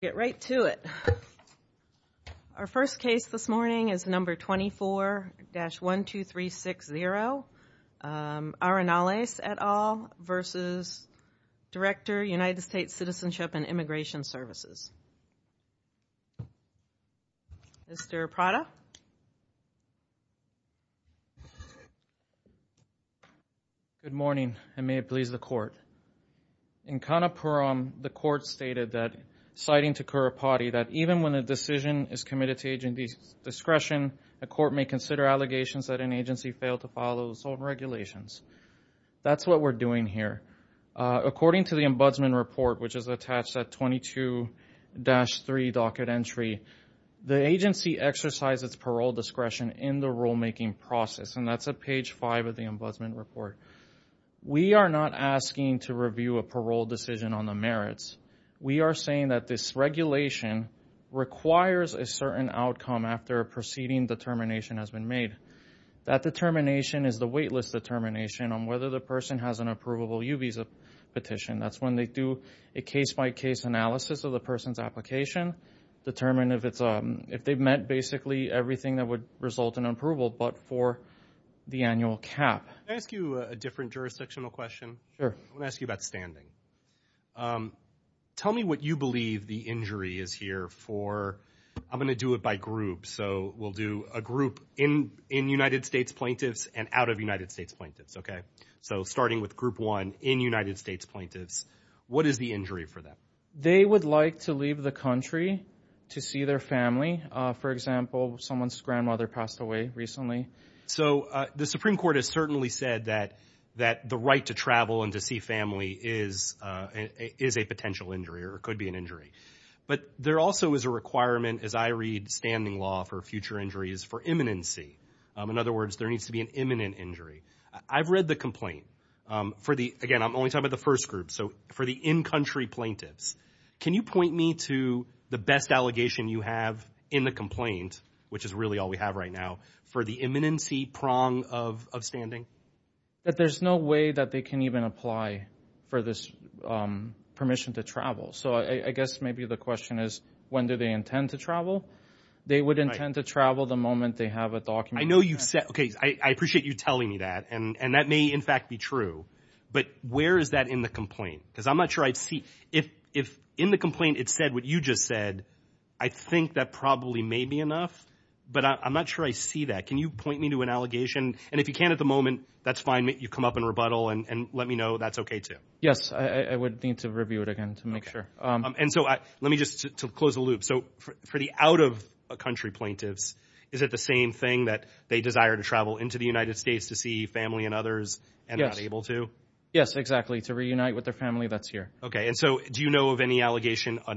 Get right to it. Our first case this morning is No. 24-12360, Arenales et al. v. Director, U.S. Citizenship & Immigration Services. Mr. Prada? Good morning, and may it please the Court. In Kanapuram, the Court stated that, citing Thakurapati, that even when a decision is committed to agency's discretion, the Court may consider allegations that an agency failed to follow certain regulations. That's what we're doing here. According to the Ombudsman Report, which is attached at 22-3, Docket Entry, the agency exercises parole discretion in the rulemaking process. That's at page five of the Ombudsman Report. We are not asking to review a parole decision on the merits. We are saying that this regulation requires a certain outcome after a preceding determination has been made. That determination is the waitlist determination on whether the person has an approvable U visa petition. That's when they do a case-by-case analysis of the person's application, determine if they've met basically everything that would result in approval, but for the annual cap. Can I ask you a different jurisdictional question? Sure. I want to ask you about standing. Tell me what you believe the injury is here for. I'm going to do it by group, so we'll do a group in United States plaintiffs and out of United States plaintiffs. Starting with group one in United States plaintiffs, what is the injury for them? They would like to leave the country to see their family. For example, someone's grandmother passed away recently. The Supreme Court has certainly said that the right to travel and to see family is a potential injury or could be an injury. There also is a requirement, as I read standing law for future injuries, for imminency. In other words, there needs to be an imminent injury. I've read the complaint. Again, I'm only talking about the first group. For the in-country plaintiffs, can you point me to the best allegation you have in the complaint, which is really all we have right now, for the imminency prong of standing? There's no way that they can even apply for this permission to travel. I guess maybe the question is, when do they intend to travel? They would intend to travel the moment they have a document. I appreciate you telling me that, and that may in fact be true, but where is that in the complaint? I'm not sure I see. If in the complaint it said what you just said, I think that probably may be enough, but I'm not sure I see that. Can you point me to an allegation? If you can't at the moment, that's fine. You come up and rebuttal and let me know that's okay too. Yes, I would need to review it again to make sure. Let me just close the loop. For the out-of-country plaintiffs, is it the same thing that they desire to travel into the United States to see family and others and not able to? Yes, exactly, to reunite with their family that's here. Do you know of any allegation for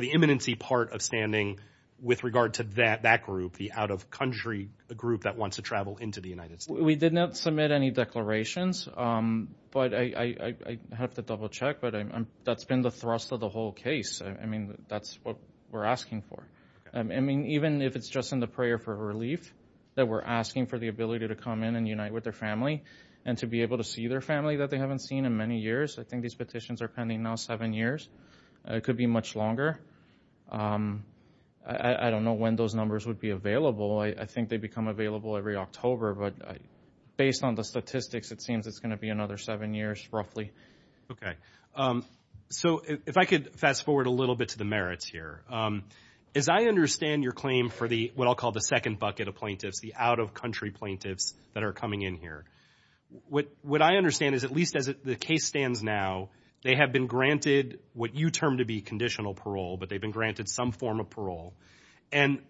the imminency part of standing with regard to that group, the out-of-country group that wants to travel into the United States? We did not submit any declarations, but I have to double-check, but that's been the thrust of the whole case. That's what we're asking for. Even if it's just in the prayer for relief, that we're asking for the ability to come in and unite with their family and to be able to see their family that they haven't seen in many years. I think these petitions are pending now seven years. It could be much longer. I don't know when those numbers would be available. I think they become available every October, but based on the statistics, it seems it's going to be another seven years, roughly. If I could fast-forward a little bit to the merits here. As I understand your claim for what I'll call the second bucket of plaintiffs, the out-of-country plaintiffs that are coming in here, what I understand is, at least as the case stands now, they have been granted what you term to be conditional parole, but they've been granted some form of parole. And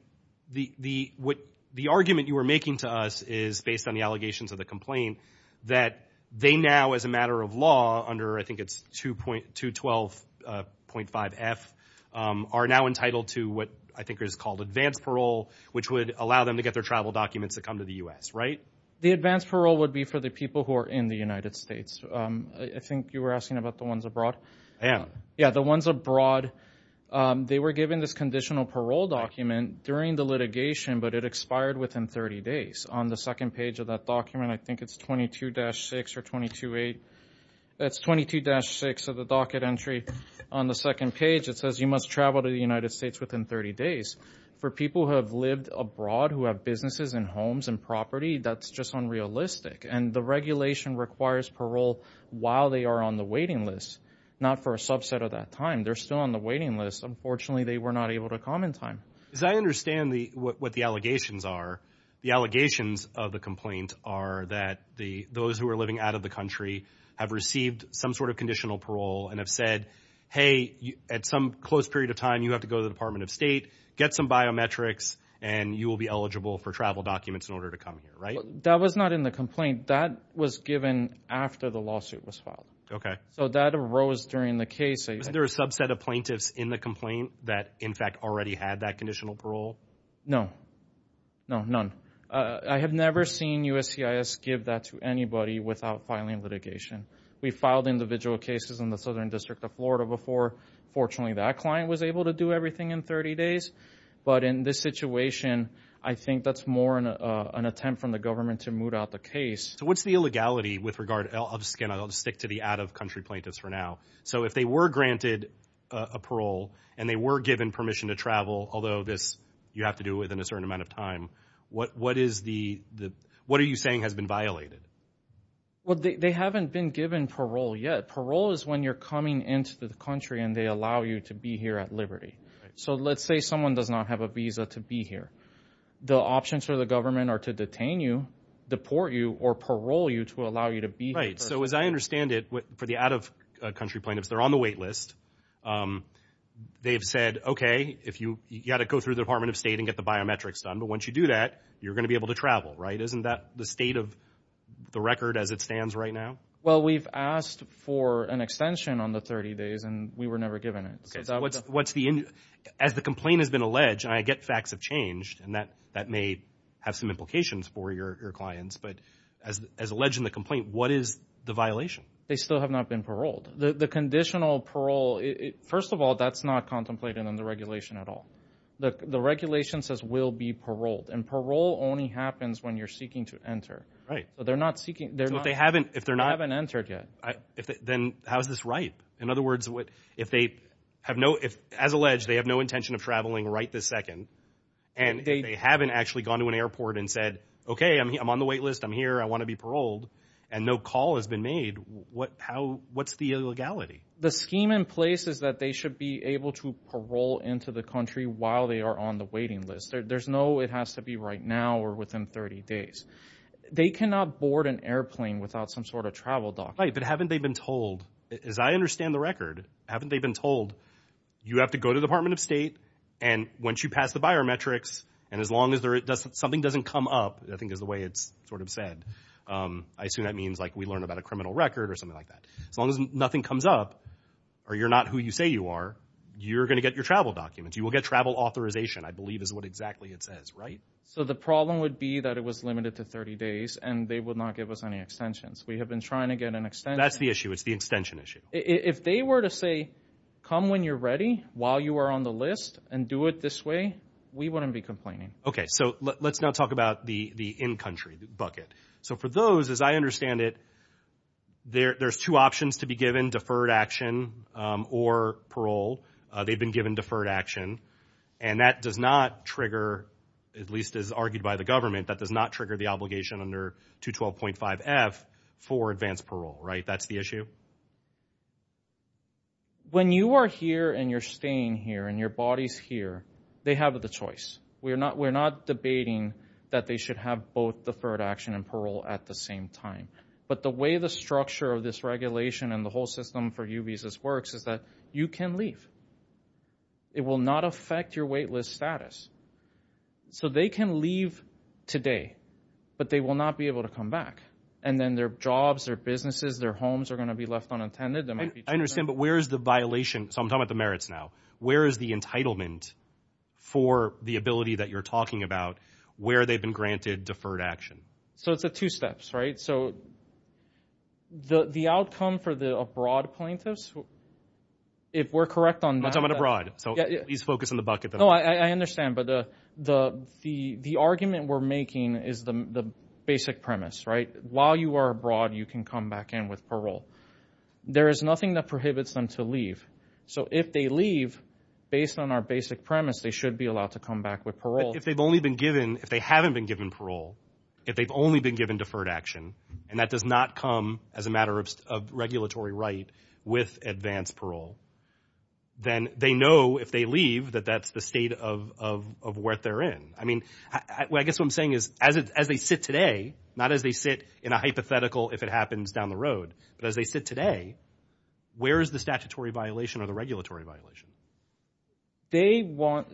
the argument you were making to us is, based on the allegations of the complaint, that they now, as a matter of law, under I think it's 212.5F, are now entitled to what I think is called advanced parole, which would allow them to get their travel documents to come to the U.S., right? The advanced parole would be for the people who are in the United States. I think you were asking about the ones abroad? I am. Yeah, the ones abroad. They were given this conditional parole document during the litigation, but it expired within 30 days. On the second page of that document, I think it's 22-6 or 22-8. That's 22-6 of the docket entry. On the second page, it says you must travel to the United States within 30 days. For people who have lived abroad, who have businesses and homes and property, that's just unrealistic. And the regulation requires parole while they are on the waiting list, not for a subset of that time. They're still on the waiting list. Unfortunately, they were not able to come in time. Because I understand what the allegations are. The allegations of the complaint are that those who are living out of the country have received some sort of conditional parole and have said, hey, at some close period of time, you have to go to the Department of State, get some biometrics, and you will be eligible for travel documents in order to come here, right? That was not in the complaint. That was given after the lawsuit was filed. So that arose during the case. Was there a subset of plaintiffs in the complaint that, in fact, already had that conditional parole? No. No, none. I have never seen USCIS give that to anybody without filing litigation. We filed individual cases in the Southern District of Florida before. Fortunately, that client was able to do everything in 30 days. But in this situation, I think that's an attempt from the government to moot out the case. So what's the illegality with regard? I'll just stick to the out-of-country plaintiffs for now. So if they were granted a parole and they were given permission to travel, although you have to do it within a certain amount of time, what are you saying has been violated? Well, they haven't been given parole yet. Parole is when you're coming into the country and they allow you to be here at liberty. So let's say someone does not have a visa to be here. The options for the government are to detain you, deport you, or parole you to allow you to be here. Right. So as I understand it, for the out-of-country plaintiffs, they're on the wait list. They've said, OK, you've got to go through the Department of State and get the biometrics done. But once you do that, you're going to be able to travel, right? Isn't that the state of the record as it stands right now? Well, we've asked for an extension on the 30 days, and we were never given it. What's the end? As the complaint has been alleged, and I get facts have changed and that may have some implications for your clients, but as alleged in the complaint, what is the violation? They still have not been paroled. The conditional parole, first of all, that's not contemplated in the regulation at all. The regulation says will be paroled, and parole only happens when you're seeking to enter. Right. But they're not seeking. So if they haven't entered yet. Then how is this right? In other words, what if they have no if, as alleged, they have no intention of traveling right this second and they haven't actually gone to an airport and said, OK, I'm on the wait list. I'm here. I want to be paroled. And no call has been made. What how what's the illegality? The scheme in place is that they should be able to parole into the country while they are on the waiting list. There's no it has to be right now or within 30 days. They cannot board an airplane without some sort of travel document. Right. But haven't they been told, as I understand the record, haven't they been told you have to go to the Department of State and once you pass the biometrics and as long as there is something doesn't come up, I think is the way it's sort of said. I assume that means like we learn about a criminal record or something like that. As long as nothing comes up or you're not who you say you are, you're going to get your travel documents. You will get travel authorization, I believe, is what exactly it says. Right. So the problem would be that it was limited to 30 days and they would not give us any extensions. We have been trying to get an extension. That's the issue. It's the extension issue. If they were to say come when you're ready while you are on the list and do it this way, we wouldn't be complaining. Okay. So let's now talk about the in-country bucket. So for those, as I understand it, there's two options to be given deferred action or parole. They've been given deferred action and that does not trigger, at least as argued by the government, that does not trigger the obligation under 212.5F for advanced parole, right? That's the issue? When you are here and you're staying here and your body's here, they have the choice. We're not debating that they should have both deferred action and parole at the same time. But the way the structure of this regulation and the whole system for UB's works is that you can leave. It will not affect your waitlist status. So they can leave today. They will not be able to come back. And then their jobs, their businesses, their homes are going to be left unattended. I understand. But where is the violation? So I'm talking about the merits now. Where is the entitlement for the ability that you're talking about where they've been granted deferred action? So it's the two steps, right? So the outcome for the abroad plaintiffs, if we're correct on that... I'm talking about abroad. So please focus on the bucket. No, I understand. But the argument we're making is the basic premise, right? While you are abroad, you can come back in with parole. There is nothing that prohibits them to leave. So if they leave, based on our basic premise, they should be allowed to come back with parole. If they've only been given, if they haven't been given parole, if they've only been given deferred action, and that does not come as a matter of regulatory right with advanced parole, then they know if they leave that that's the state of where they're in. I mean, I guess what I'm saying is as they sit today, not as they sit in a hypothetical if it happens down the road, but as they sit today, where is the statutory violation or the regulatory violation? They want,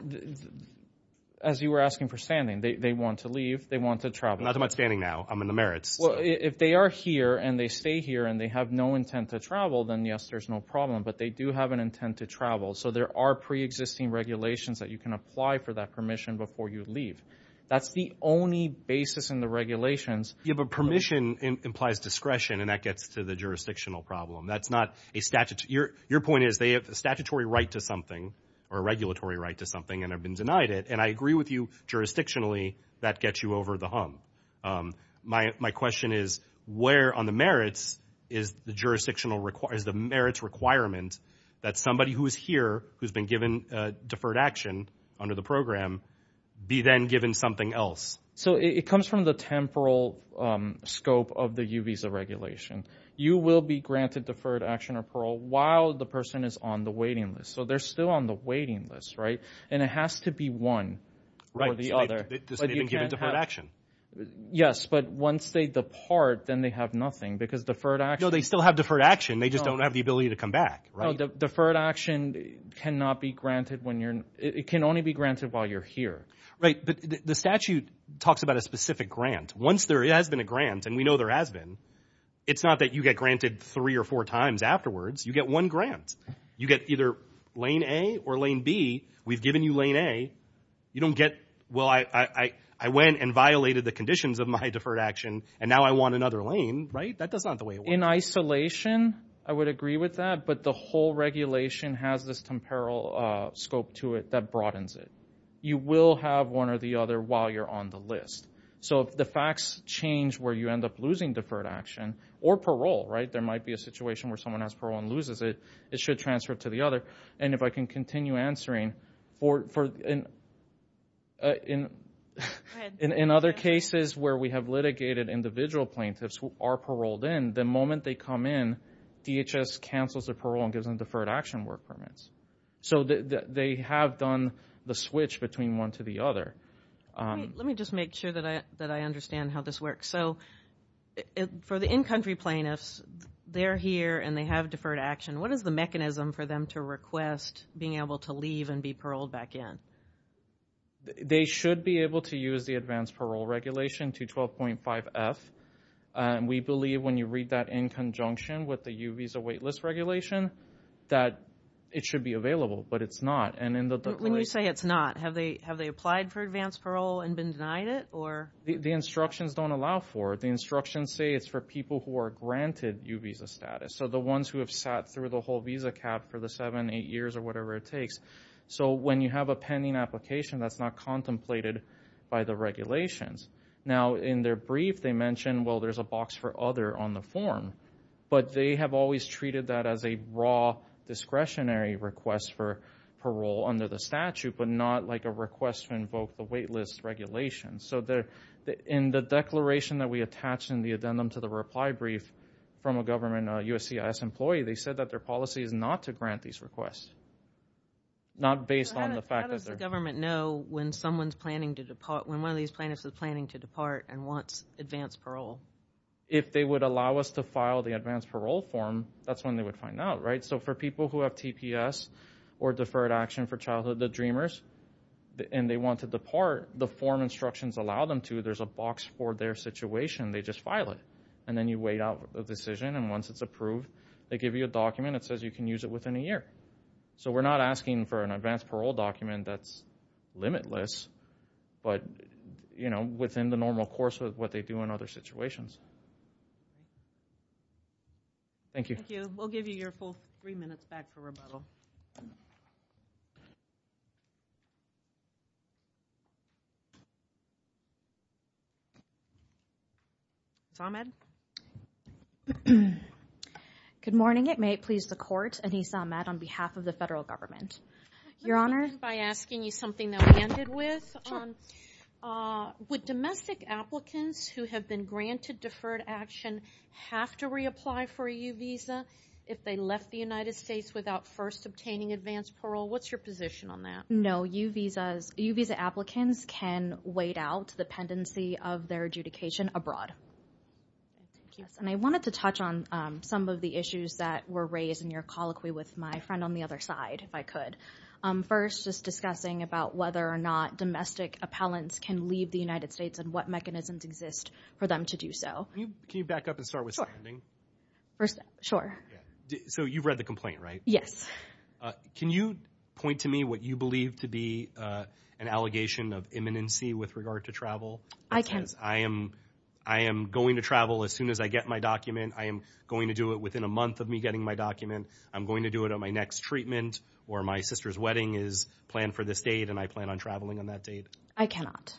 as you were asking for standing, they want to leave. They want to travel. Not that I'm not standing now. I'm in the merits. Well, if they are here and they stay here and they have no intent to travel, then yes, there's no problem. But they do have an intent to travel. So there are pre-existing regulations that you can apply for that permission before you leave. That's the only basis in the regulations. You have a permission implies discretion, and that gets to the jurisdictional problem. That's not a statute. Your point is they have a statutory right to something or a regulatory right to something and have been denied it. And I agree with you, jurisdictionally, that gets you over the hump. My question is where on the merits is the jurisdictional, is the merits requirement that somebody who is here, who's been given deferred action under the program, be then given something else? So it comes from the temporal scope of the U visa regulation. You will be granted deferred action or parole while the person is on the waiting list. So they're still on the waiting list, right? And it has to be one or the other. They've been given deferred action. Yes, but once they depart, then they have nothing because deferred action... No, they still have deferred action. They just don't have the ability to come back, right? Deferred action cannot be granted when you're... It can only be granted while you're here. Right, but the statute talks about a specific grant. Once there has been a grant, and we know there has been, it's not that you get granted three or four times afterwards. You get one grant. You get either lane A or lane B. We've given you lane A. You don't get, well, I went and violated the conditions of my deferred action, and now I want another lane, right? That's not the way it works. In isolation, I would agree with that. But the whole regulation has this temporal scope to it that broadens it. You will have one or the other while you're on the list. So if the facts change where you end up losing deferred action or parole, right? There might be a situation where someone has parole and loses it. It should transfer to the other. And if I can continue answering... In other cases where we have litigated individual plaintiffs who are paroled in, the moment they come in, DHS cancels their parole and gives them deferred action work permits. So they have done the switch between one to the other. Let me just make sure that I understand how this works. So for the in-country plaintiffs, they're here and they have deferred action. What is the mechanism for them to request being able to leave and be paroled back in? They should be able to use the Advanced Parole Regulation 212.5F. We believe when you read that in conjunction with the U-Visa waitlist regulation that it should be available, but it's not. And in the... When you say it's not, have they applied for advanced parole and been denied it? The instructions don't allow for it. The instructions say it's for people who are granted U-Visa status. The ones who have sat through the whole visa cap for the seven, eight years or whatever it takes. When you have a pending application, that's not contemplated by the regulations. In their brief, they mention, well, there's a box for other on the form. But they have always treated that as a raw discretionary request for parole under the statute, but not like a request to invoke the waitlist regulation. In the declaration that we attach in the addendum to the reply brief from a government USCIS employee, they said that their policy is not to grant these requests. Not based on the fact that they're... How does the government know when someone's planning to depart, when one of these plaintiffs is planning to depart and wants advanced parole? If they would allow us to file the advanced parole form, that's when they would find out, right? So for people who have TPS or Deferred Action for Childhood Dreamers, and they want to depart, the form instructions allow them to. There's a box for their situation. They just file it. And then you wait out the decision, and once it's approved, they give you a document that says you can use it within a year. So we're not asking for an advanced parole document that's limitless, but within the normal course of what they do in other situations. Thank you. We'll give you your full three minutes back for rebuttal. Good morning. It may please the court. Anissa Ahmed on behalf of the federal government. Your Honor. By asking you something that we ended with. Would domestic applicants who have been granted Deferred Action have to reapply for a U-Visa if they left the United States without first obtaining advanced parole? What's your position on that? No, U-Visa applicants can wait out the pendency of their adjudication abroad. And I wanted to touch on some of the issues that were raised in your colloquy with my friend on the other side, if I could. First, just discussing about whether or not domestic appellants can leave the United States, and what mechanisms exist for them to do so. Can you back up and start with standing? Sure. So you've read the complaint, right? Yes. Can you point to me what you believe to be an allegation of imminency with regard to travel? I can. I am going to travel as soon as I get my document. I am going to do it within a month of me getting my document. I'm going to do it on my next treatment, or my sister's wedding is planned for this date, and I plan on traveling on that date. I cannot.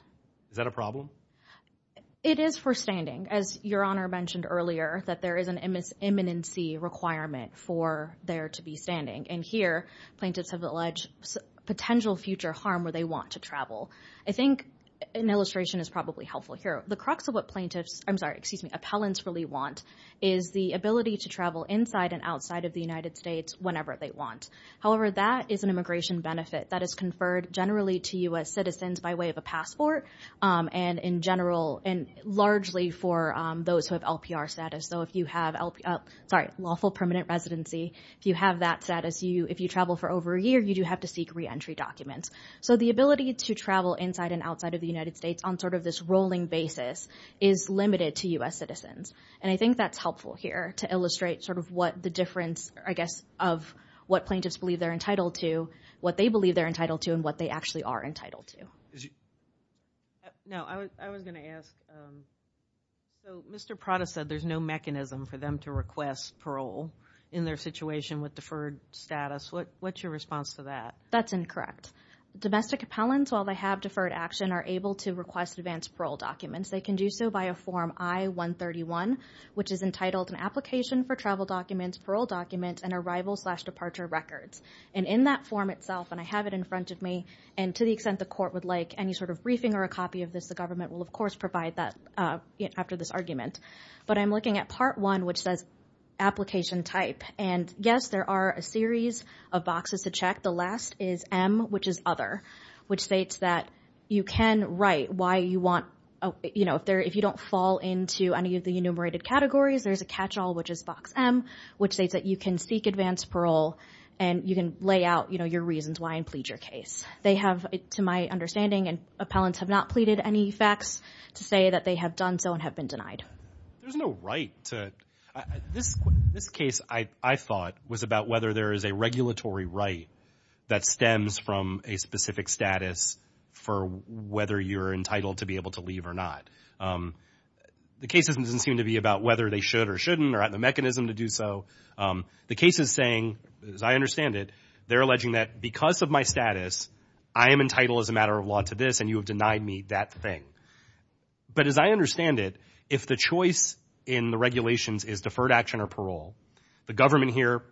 Is that a problem? It is for standing. As Your Honor mentioned earlier, that there is an imminency requirement for there to be standing. And here, plaintiffs have alleged potential future harm where they want to travel. I think an illustration is probably helpful here. The crux of what plaintiffs, I'm sorry, excuse me, appellants really want is the ability to travel inside and outside of the United States whenever they want. However, that is an immigration benefit that is conferred generally to U.S. citizens by way of a passport. And in general, and largely for those who have LPR status. So if you have, sorry, lawful permanent residency, if you have that status, if you travel for over a year, you do have to seek reentry documents. So the ability to travel inside and outside of the United States on sort of this rolling basis is limited to U.S. citizens. And I think that's helpful here to illustrate sort of what the difference, I guess, of what plaintiffs believe they're entitled to, what they believe they're entitled to, and what they actually are entitled to. No, I was gonna ask, so Mr. Prada said there's no mechanism for them to request parole in their situation with deferred status. What's your response to that? That's incorrect. Domestic appellants, while they have deferred action, are able to request advanced parole documents. They can do so by a form I-131, which is entitled an application for travel documents, parole documents, and arrival slash departure records. And in that form itself, and I have it in front of me, and to the extent the court would like any sort of briefing or a copy of this, the government will, of course, provide that after this argument. But I'm looking at part one, which says application type. And yes, there are a series of boxes to check. The last is M, which is other, which states that you can write why you want, if you don't fall into any of the enumerated categories, there's a catch-all, which is box M, which states that you can seek advanced parole and you can lay out your reasons why and plead your case. They have, to my understanding, and appellants have not pleaded any facts to say that they have done so and have been denied. There's no right to, this case, I thought, was about whether there is a regulatory right that stems from a specific status for whether you're entitled to be able to leave or not. The case doesn't seem to be about whether they should or shouldn't, or the mechanism to do so. The case is saying, as I understand it, they're alleging that because of my status, I am entitled as a matter of law to this and you have denied me that thing. But as I understand it, if the choice in the regulations is deferred action or parole, the government here,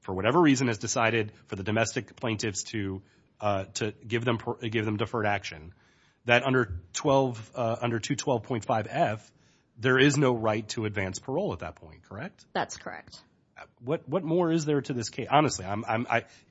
for whatever reason, has decided for the domestic plaintiffs to give them deferred action, that under 212.5F, there is no right to advanced parole at that point, correct? That's correct. What more is there to this case? Honestly,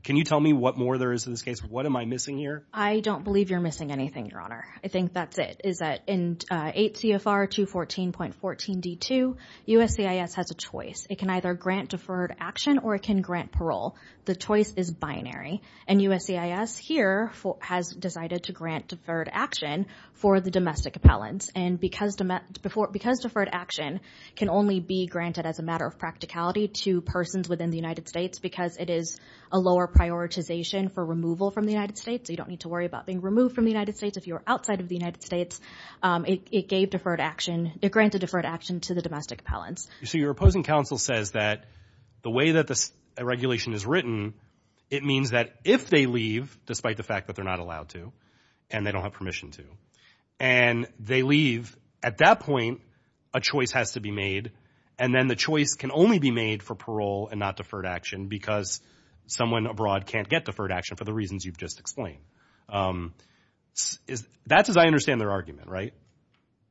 can you tell me what more there is in this case? What am I missing here? I don't believe you're missing anything, Your Honor. I think that's it, is that in 8 CFR 214.14D2, USCIS has a choice. It can either grant deferred action or it can grant parole. The choice is binary. And USCIS here has decided to grant deferred action for the domestic appellants. And because deferred action can only be granted as a matter of practicality to persons within the United States because it is a lower prioritization for removal from the United States, so you don't need to worry about being removed from the United States if you're outside of the United States, it gave deferred action, it granted deferred action to the domestic appellants. So your opposing counsel says that the way that this regulation is written, it means that if they leave, despite the fact that they're not allowed to and they don't have permission to, and they leave, at that point, a choice has to be made. And then the choice can only be made for parole and not deferred action, because someone abroad can't get deferred action for the reasons you've just explained. That's as I understand their argument, right?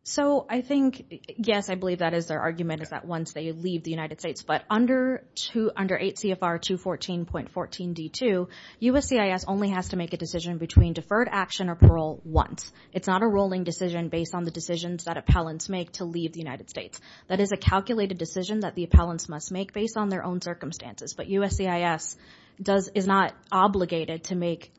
So I think, yes, I believe that is their argument is that once they leave the United States, but under 8 CFR 214.14d2, USCIS only has to make a decision between deferred action or parole once. It's not a rolling decision based on the decisions that appellants make to leave the United States. That is a calculated decision that the appellants must make based on their own circumstances. But USCIS is not obligated to make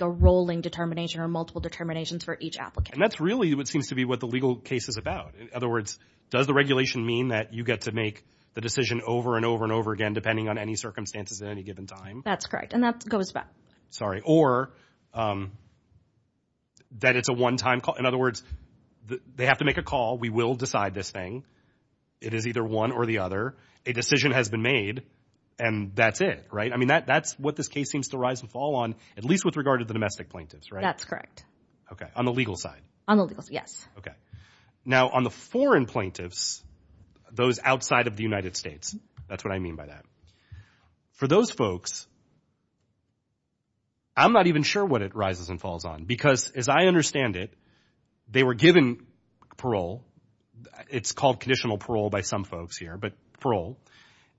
a rolling determination or multiple determinations for each applicant. And that's really what seems to be what the legal case is about. In other words, does the regulation mean that you get to make the decision over and over and over again, depending on any circumstances at any given time? That's correct. And that goes back. Sorry, or that it's a one-time call. In other words, they have to make a call. We will decide this thing. It is either one or the other. A decision has been made and that's it, right? I mean, that's what this case seems to rise and fall on, at least with regard to the domestic plaintiffs, right? That's correct. Okay. On the legal side? On the legal side, yes. Okay. Now on the foreign plaintiffs, those outside of the United States, that's what I mean by that. For those folks, I'm not even sure what it rises and falls on. Because as I understand it, they were given parole. It's called conditional parole by some folks here. Parole.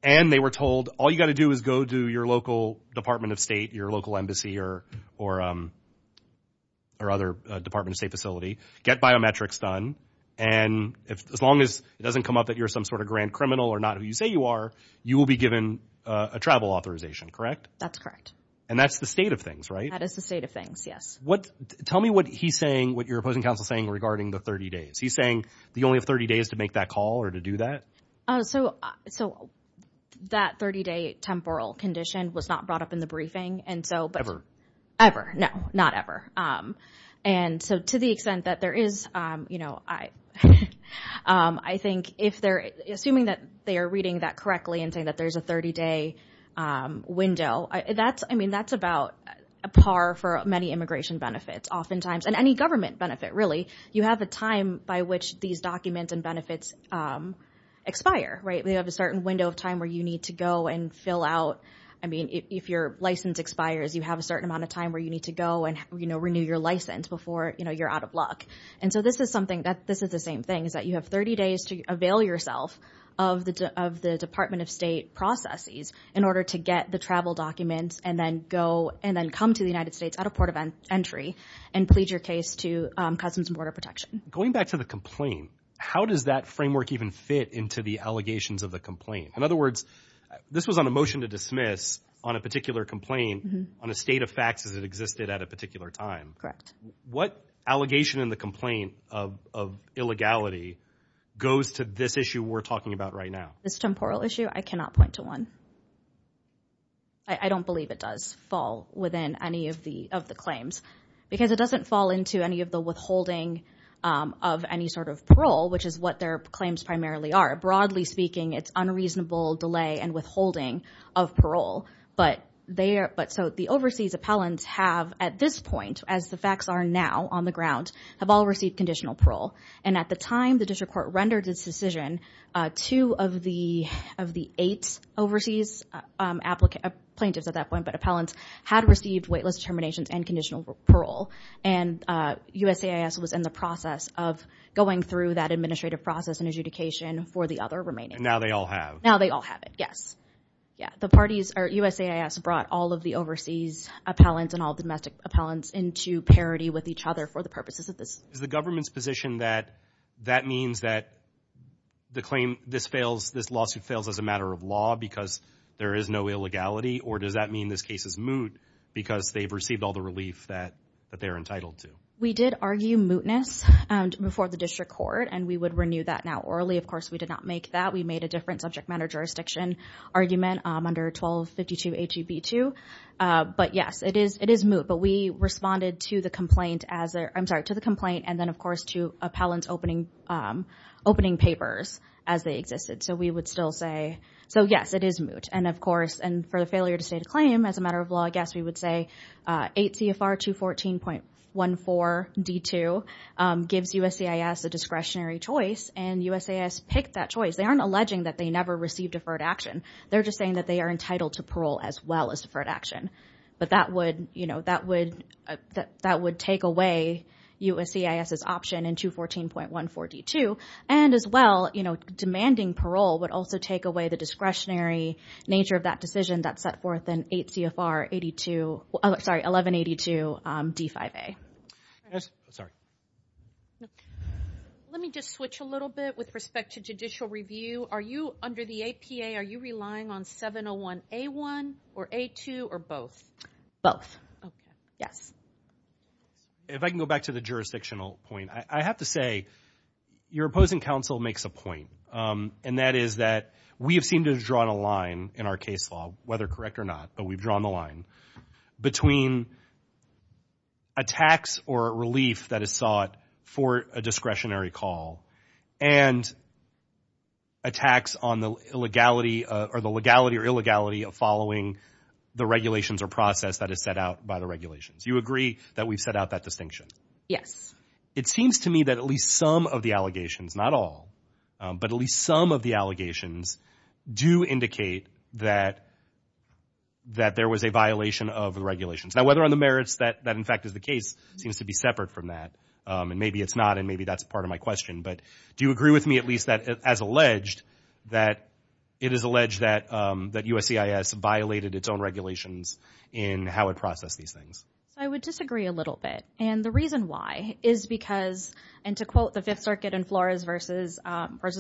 And they were told, all you got to do is go to your local Department of State, your local embassy or other Department of State facility, get biometrics done. And as long as it doesn't come up that you're some sort of grand criminal or not who you say you are, you will be given a travel authorization, correct? That's correct. And that's the state of things, right? That is the state of things, yes. Tell me what he's saying, what your opposing counsel is saying regarding the 30 days. He's saying that you only have 30 days to make that call or to do that? Oh, so that 30 day temporal condition was not brought up in the briefing. And so- Ever. No, not ever. And so to the extent that there is, I think if they're assuming that they are reading that correctly and saying that there's a 30 day window, I mean, that's about a par for many immigration benefits oftentimes. And any government benefit, really. You have a time by which these documents and benefits expire, right? We have a certain window of time where you need to go and fill out. I mean, if your license expires, you have a certain amount of time where you need to go and, you know, renew your license before, you know, you're out of luck. And so this is something that this is the same thing is that you have 30 days to avail yourself of the Department of State processes in order to get the travel documents and then go and then come to the United States at a port of entry and plead your case to Customs and Border Protection. Going back to the complaint, how does that framework even fit into the allegations of the complaint? In other words, this was on a motion to dismiss on a particular complaint on a state of facts as it existed at a particular time. What allegation in the complaint of illegality goes to this issue we're talking about right now? This temporal issue? I cannot point to one. I don't believe it does fall within any of the claims because it doesn't fall into any of the withholding of any sort of parole, which is what their claims primarily are. Broadly speaking, it's unreasonable delay and withholding of parole. But so the overseas appellants have at this point, as the facts are now on the ground, have all received conditional parole. And at the time the district court rendered this decision, two of the eight overseas plaintiffs at that point, but appellants, had received weightless determinations and conditional parole. And USAIS was in the process of going through that administrative process and adjudication for the other remaining. And now they all have. Now they all have it. Yes. Yeah, the parties are USAIS brought all of the overseas appellants and all domestic appellants into parity with each other for the purposes of this. Is the government's position that that means that the claim, this lawsuit fails as a matter of law because there is no illegality, or does that mean this case is moot because they've received all the relief that they're entitled to? We did argue mootness before the district court, and we would renew that now orally. Of course, we did not make that. We made a different subject matter jurisdiction argument under 1252 H-E-B-2. But yes, it is moot. But we responded to the complaint as, I'm sorry, to the complaint. And then of course, to appellants opening papers as they existed. So we would still say, so yes, it is moot. And of course, and for the failure to state a claim as a matter of law, we would say 8 CFR 214.14 D-2 gives USCIS a discretionary choice. And USCIS picked that choice. They aren't alleging that they never received deferred action. They're just saying that they are entitled to parole as well as deferred action. But that would take away USCIS's option in 214.14 D-2. And as well, demanding parole would also take away the discretionary nature of that decision that's set forth in 8 CFR 82, sorry, 1182 D-5A. Yes, sorry. Let me just switch a little bit with respect to judicial review. Are you under the APA, are you relying on 701 A-1 or A-2 or both? Both. Yes. If I can go back to the jurisdictional point, I have to say your opposing counsel makes a point. And that is that we have seemed to have drawn a line in our case law, whether correct or not, but we've drawn the line between attacks or relief that is sought for a discretionary call and attacks on the legality or illegality of following the regulations or process that is set out by the regulations. You agree that we've set out that distinction? Yes. It seems to me that at least some of the allegations, not all, but at least some of the allegations do indicate that there was a violation of the regulations. Now, whether on the merits that in fact is the case seems to be separate from that, and maybe it's not, and maybe that's part of my question, but do you agree with me at least that as alleged that it is alleged that USCIS violated its own regulations in how it processed these things? So I would disagree a little bit. And the reason why is because, and to quote the Fifth Circuit in Flores versus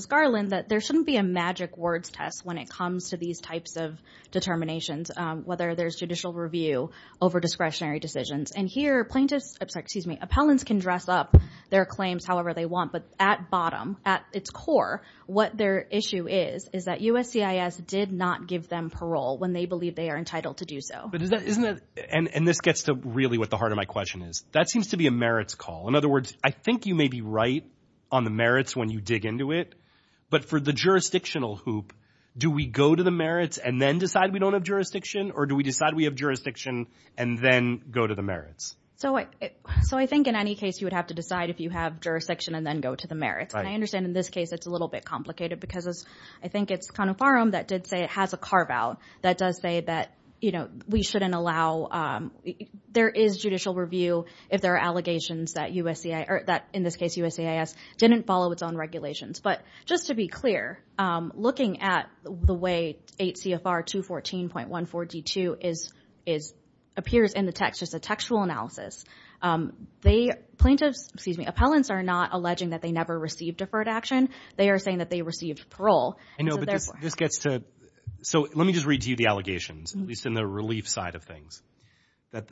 Garland, that there shouldn't be a magic words test when it comes to these types of determinations, whether there's judicial review over discretionary decisions. And here plaintiffs, I'm sorry, excuse me, appellants can dress up their claims however they want, but at bottom, at its core, what their issue is, is that USCIS did not give them parole when they believe they are entitled to do so. And this gets to really what the heart of my question is. That seems to be a merits call. In other words, I think you may be right on the merits when you dig into it, but for the jurisdictional hoop, do we go to the merits and then decide we don't have jurisdiction? Or do we decide we have jurisdiction and then go to the merits? So I think in any case, you would have to decide if you have jurisdiction and then go to the merits. And I understand in this case, it's a little bit complicated because I think it's kind of firearm that did say it has a carve out that does say that we shouldn't allow, there is judicial review if there are allegations that USCIS, or that in this case, USCIS didn't follow its own regulations. But just to be clear, looking at the way 8 CFR 214.14 D2 appears in the text, just a textual analysis. Plaintiffs, excuse me, appellants are not alleging that they never received deferred action. They are saying that they received parole. And so therefore- I know, but this gets to, so let me just read to you the allegations, at least in the relief side of things.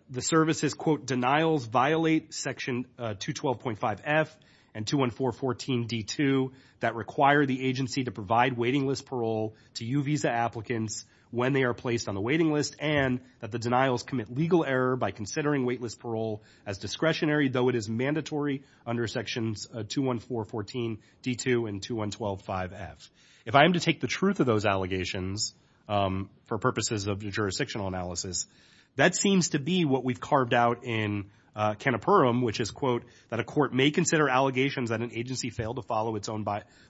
The services, quote, violate section 212.5 F and 214.14 D2 that require the agency to provide waiting list parole to U visa applicants when they are placed on the waiting list and that the denials commit legal error by considering waitlist parole as discretionary, though it is mandatory under sections 214.14 D2 and 2112.5 F. If I am to take the truth of those allegations for purposes of jurisdictional analysis, that seems to be what we've carved out in Cana Purim, which is, quote, that a court may consider allegations that an agency failed to follow its own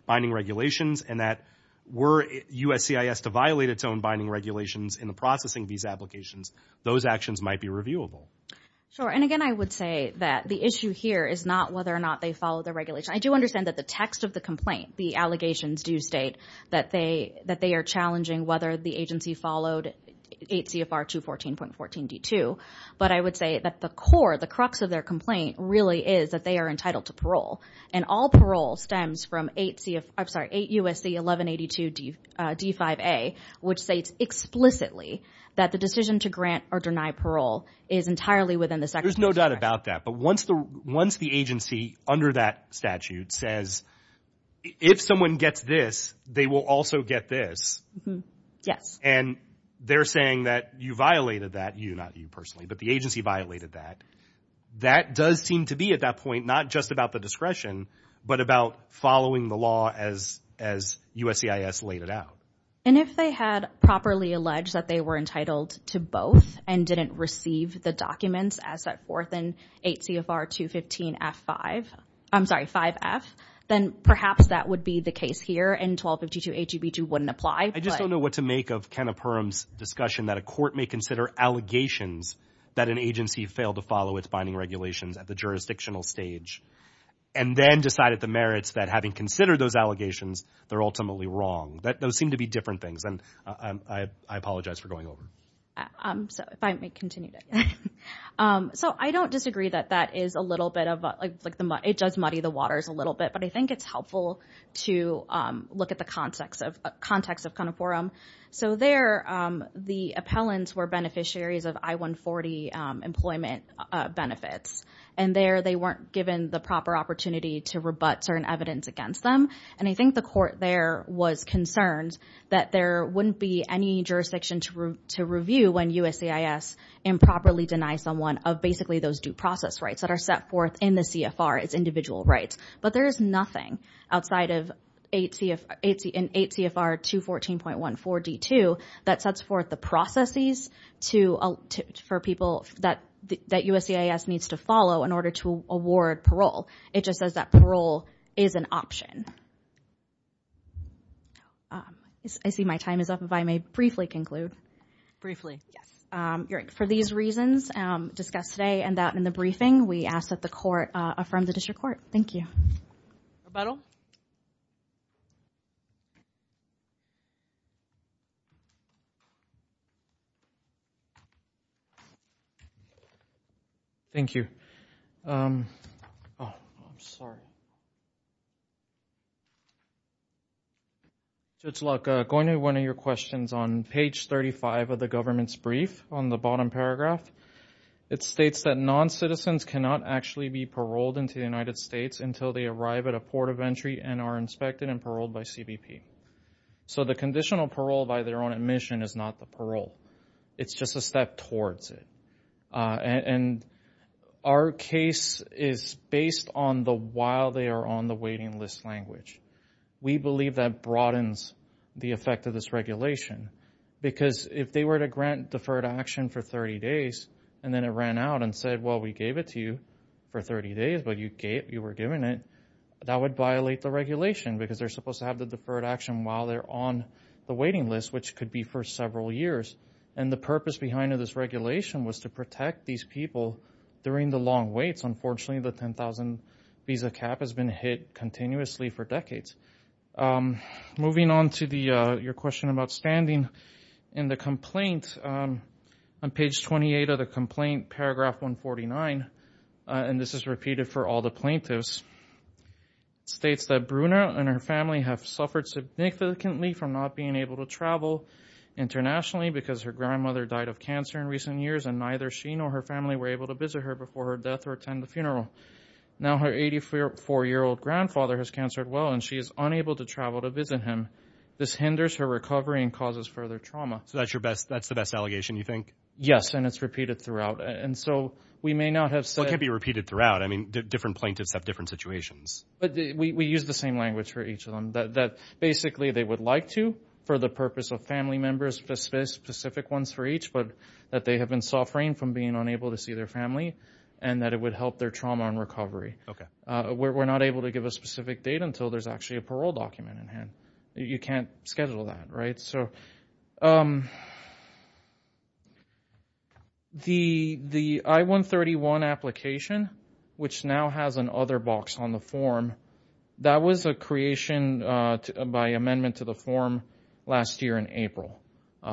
binding regulations and that were USCIS to violate its own binding regulations in the processing of these applications, those actions might be reviewable. Sure, and again, I would say that the issue here is not whether or not they follow the regulation. I do understand that the text of the complaint, the allegations do state that they are challenging whether the agency followed 8 CFR 214.14 D2. But I would say that the core, the crux of their complaint really is that they are entitled to parole and all parole stems from 8 CFR, I'm sorry, 8 USC 1182 D5A, which states explicitly that the decision to grant or deny parole is entirely within the second. There's no doubt about that, but once the agency under that statute says, if someone gets this, they will also get this. Yes. And they're saying that you violated that, you, not you personally, but the agency violated that. That does seem to be at that point, not just about the discretion, but about following the law as USCIS laid it out. And if they had properly alleged that they were entitled to both and didn't receive the documents as set forth in 8 CFR 215 F5, I'm sorry, 5 F, then perhaps that would be the case here and 1252 HUB 2 wouldn't apply. I just don't know what to make of Kenna Perham's discussion that a court may consider allegations that an agency failed to follow its binding regulations at the jurisdictional stage and then decided the merits that having considered those allegations, they're ultimately wrong. Those seem to be different things. And I apologize for going over. So if I may continue. So I don't disagree that that is a little bit of like, it does muddy the waters a little bit, but I think it's helpful to look at the context of Kenna Perham. So there the appellants were beneficiaries of I-140 employment benefits. And there they weren't given the proper opportunity to rebut certain evidence against them. And I think the court there was concerned that there wouldn't be any jurisdiction to review when USCIS improperly denies someone of basically those due process rights that are set forth in the CFR as individual rights. But there is nothing outside of 8 CFR 214.14 D2 that sets forth the processes for people that USCIS needs to follow in order to award parole. It just says that parole is an option. I see my time is up. If I may briefly conclude. Briefly. For these reasons discussed today and that in the briefing, we ask that the court affirm the district court. Thank you. Rebuttal. Thank you. Oh, I'm sorry. Judge Luck, going to one of your questions on page 35 of the government's brief on the bottom paragraph. It states that non-citizens cannot actually be paroled into the United States until they arrive at a port of entry and are inspected and paroled by CBP. So the conditional parole by their own admission is not the parole. It's just a step towards it. And our case is based on the while they are on the waiting list language. We believe that broadens the effect of this regulation because if they were to grant deferred action for 30 days and then it ran out and said, well, we gave it to you for 30 days, you were given it, that would violate the regulation because they're supposed to have the deferred action while they're on the waiting list, which could be for several years. And the purpose behind this regulation was to protect these people during the long waits. Unfortunately, the 10,000 visa cap has been hit continuously for decades. Moving on to your question about standing in the complaint on page 28 of the complaint, paragraph 149, and this is repeated for all the plaintiffs, states that Bruna and her family have suffered significantly from not being able to travel internationally because her grandmother died of cancer in recent years and neither she nor her family were able to visit her before her death or attend the funeral. Now her 84-year-old grandfather has cancer as well and she is unable to travel to visit him. This hinders her recovery and causes further trauma. So that's the best allegation, you think? Yes, and it's repeated throughout. And so we may not have said- It can't be repeated throughout. I mean, different plaintiffs have different situations. But we use the same language for each of them, that basically they would like to for the purpose of family members, specific ones for each, but that they have been suffering from being unable to see their family and that it would help their trauma and recovery. We're not able to give a specific date until there's actually a parole document in hand. You can't schedule that, right? So the I-131 application, which now has an other box on the form, that was a creation by amendment to the form last year in April.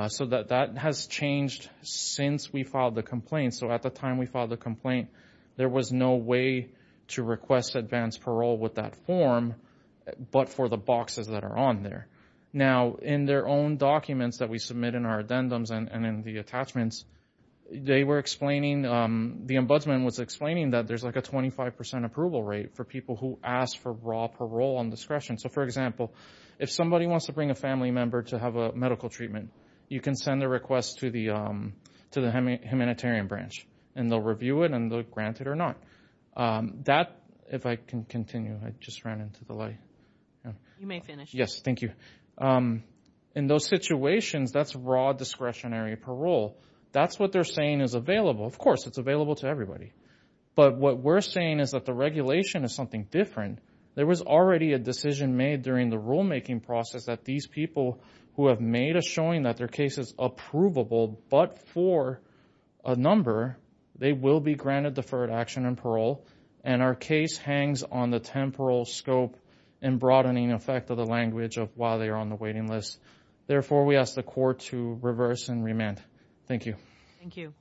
So that has changed since we filed the complaint. So at the time we filed the complaint, there was no way to request advanced parole with that form, but for the boxes that are on there. Now in their own documents that we submit in our addendums and in the attachments, they were explaining, the ombudsman was explaining that there's like a 25% approval rate for people who ask for raw parole on discretion. So for example, if somebody wants to bring a family member to have a medical treatment, you can send a request to the humanitarian branch and they'll review it and they'll grant it or not. That, if I can continue, I just ran into the light. Yeah. You may finish. Yes, thank you. In those situations, that's raw discretionary parole. That's what they're saying is available. Of course, it's available to everybody. But what we're saying is that the regulation is something different. There was already a decision made during the rulemaking process that these people who have made a showing that their case is approvable, but for a number, they will be granted deferred action and parole. And our case hangs on the temporal scope and broadening effect of the language of why they are on the waiting list. Therefore, we ask the court to reverse and remand. Thank you. Thank you.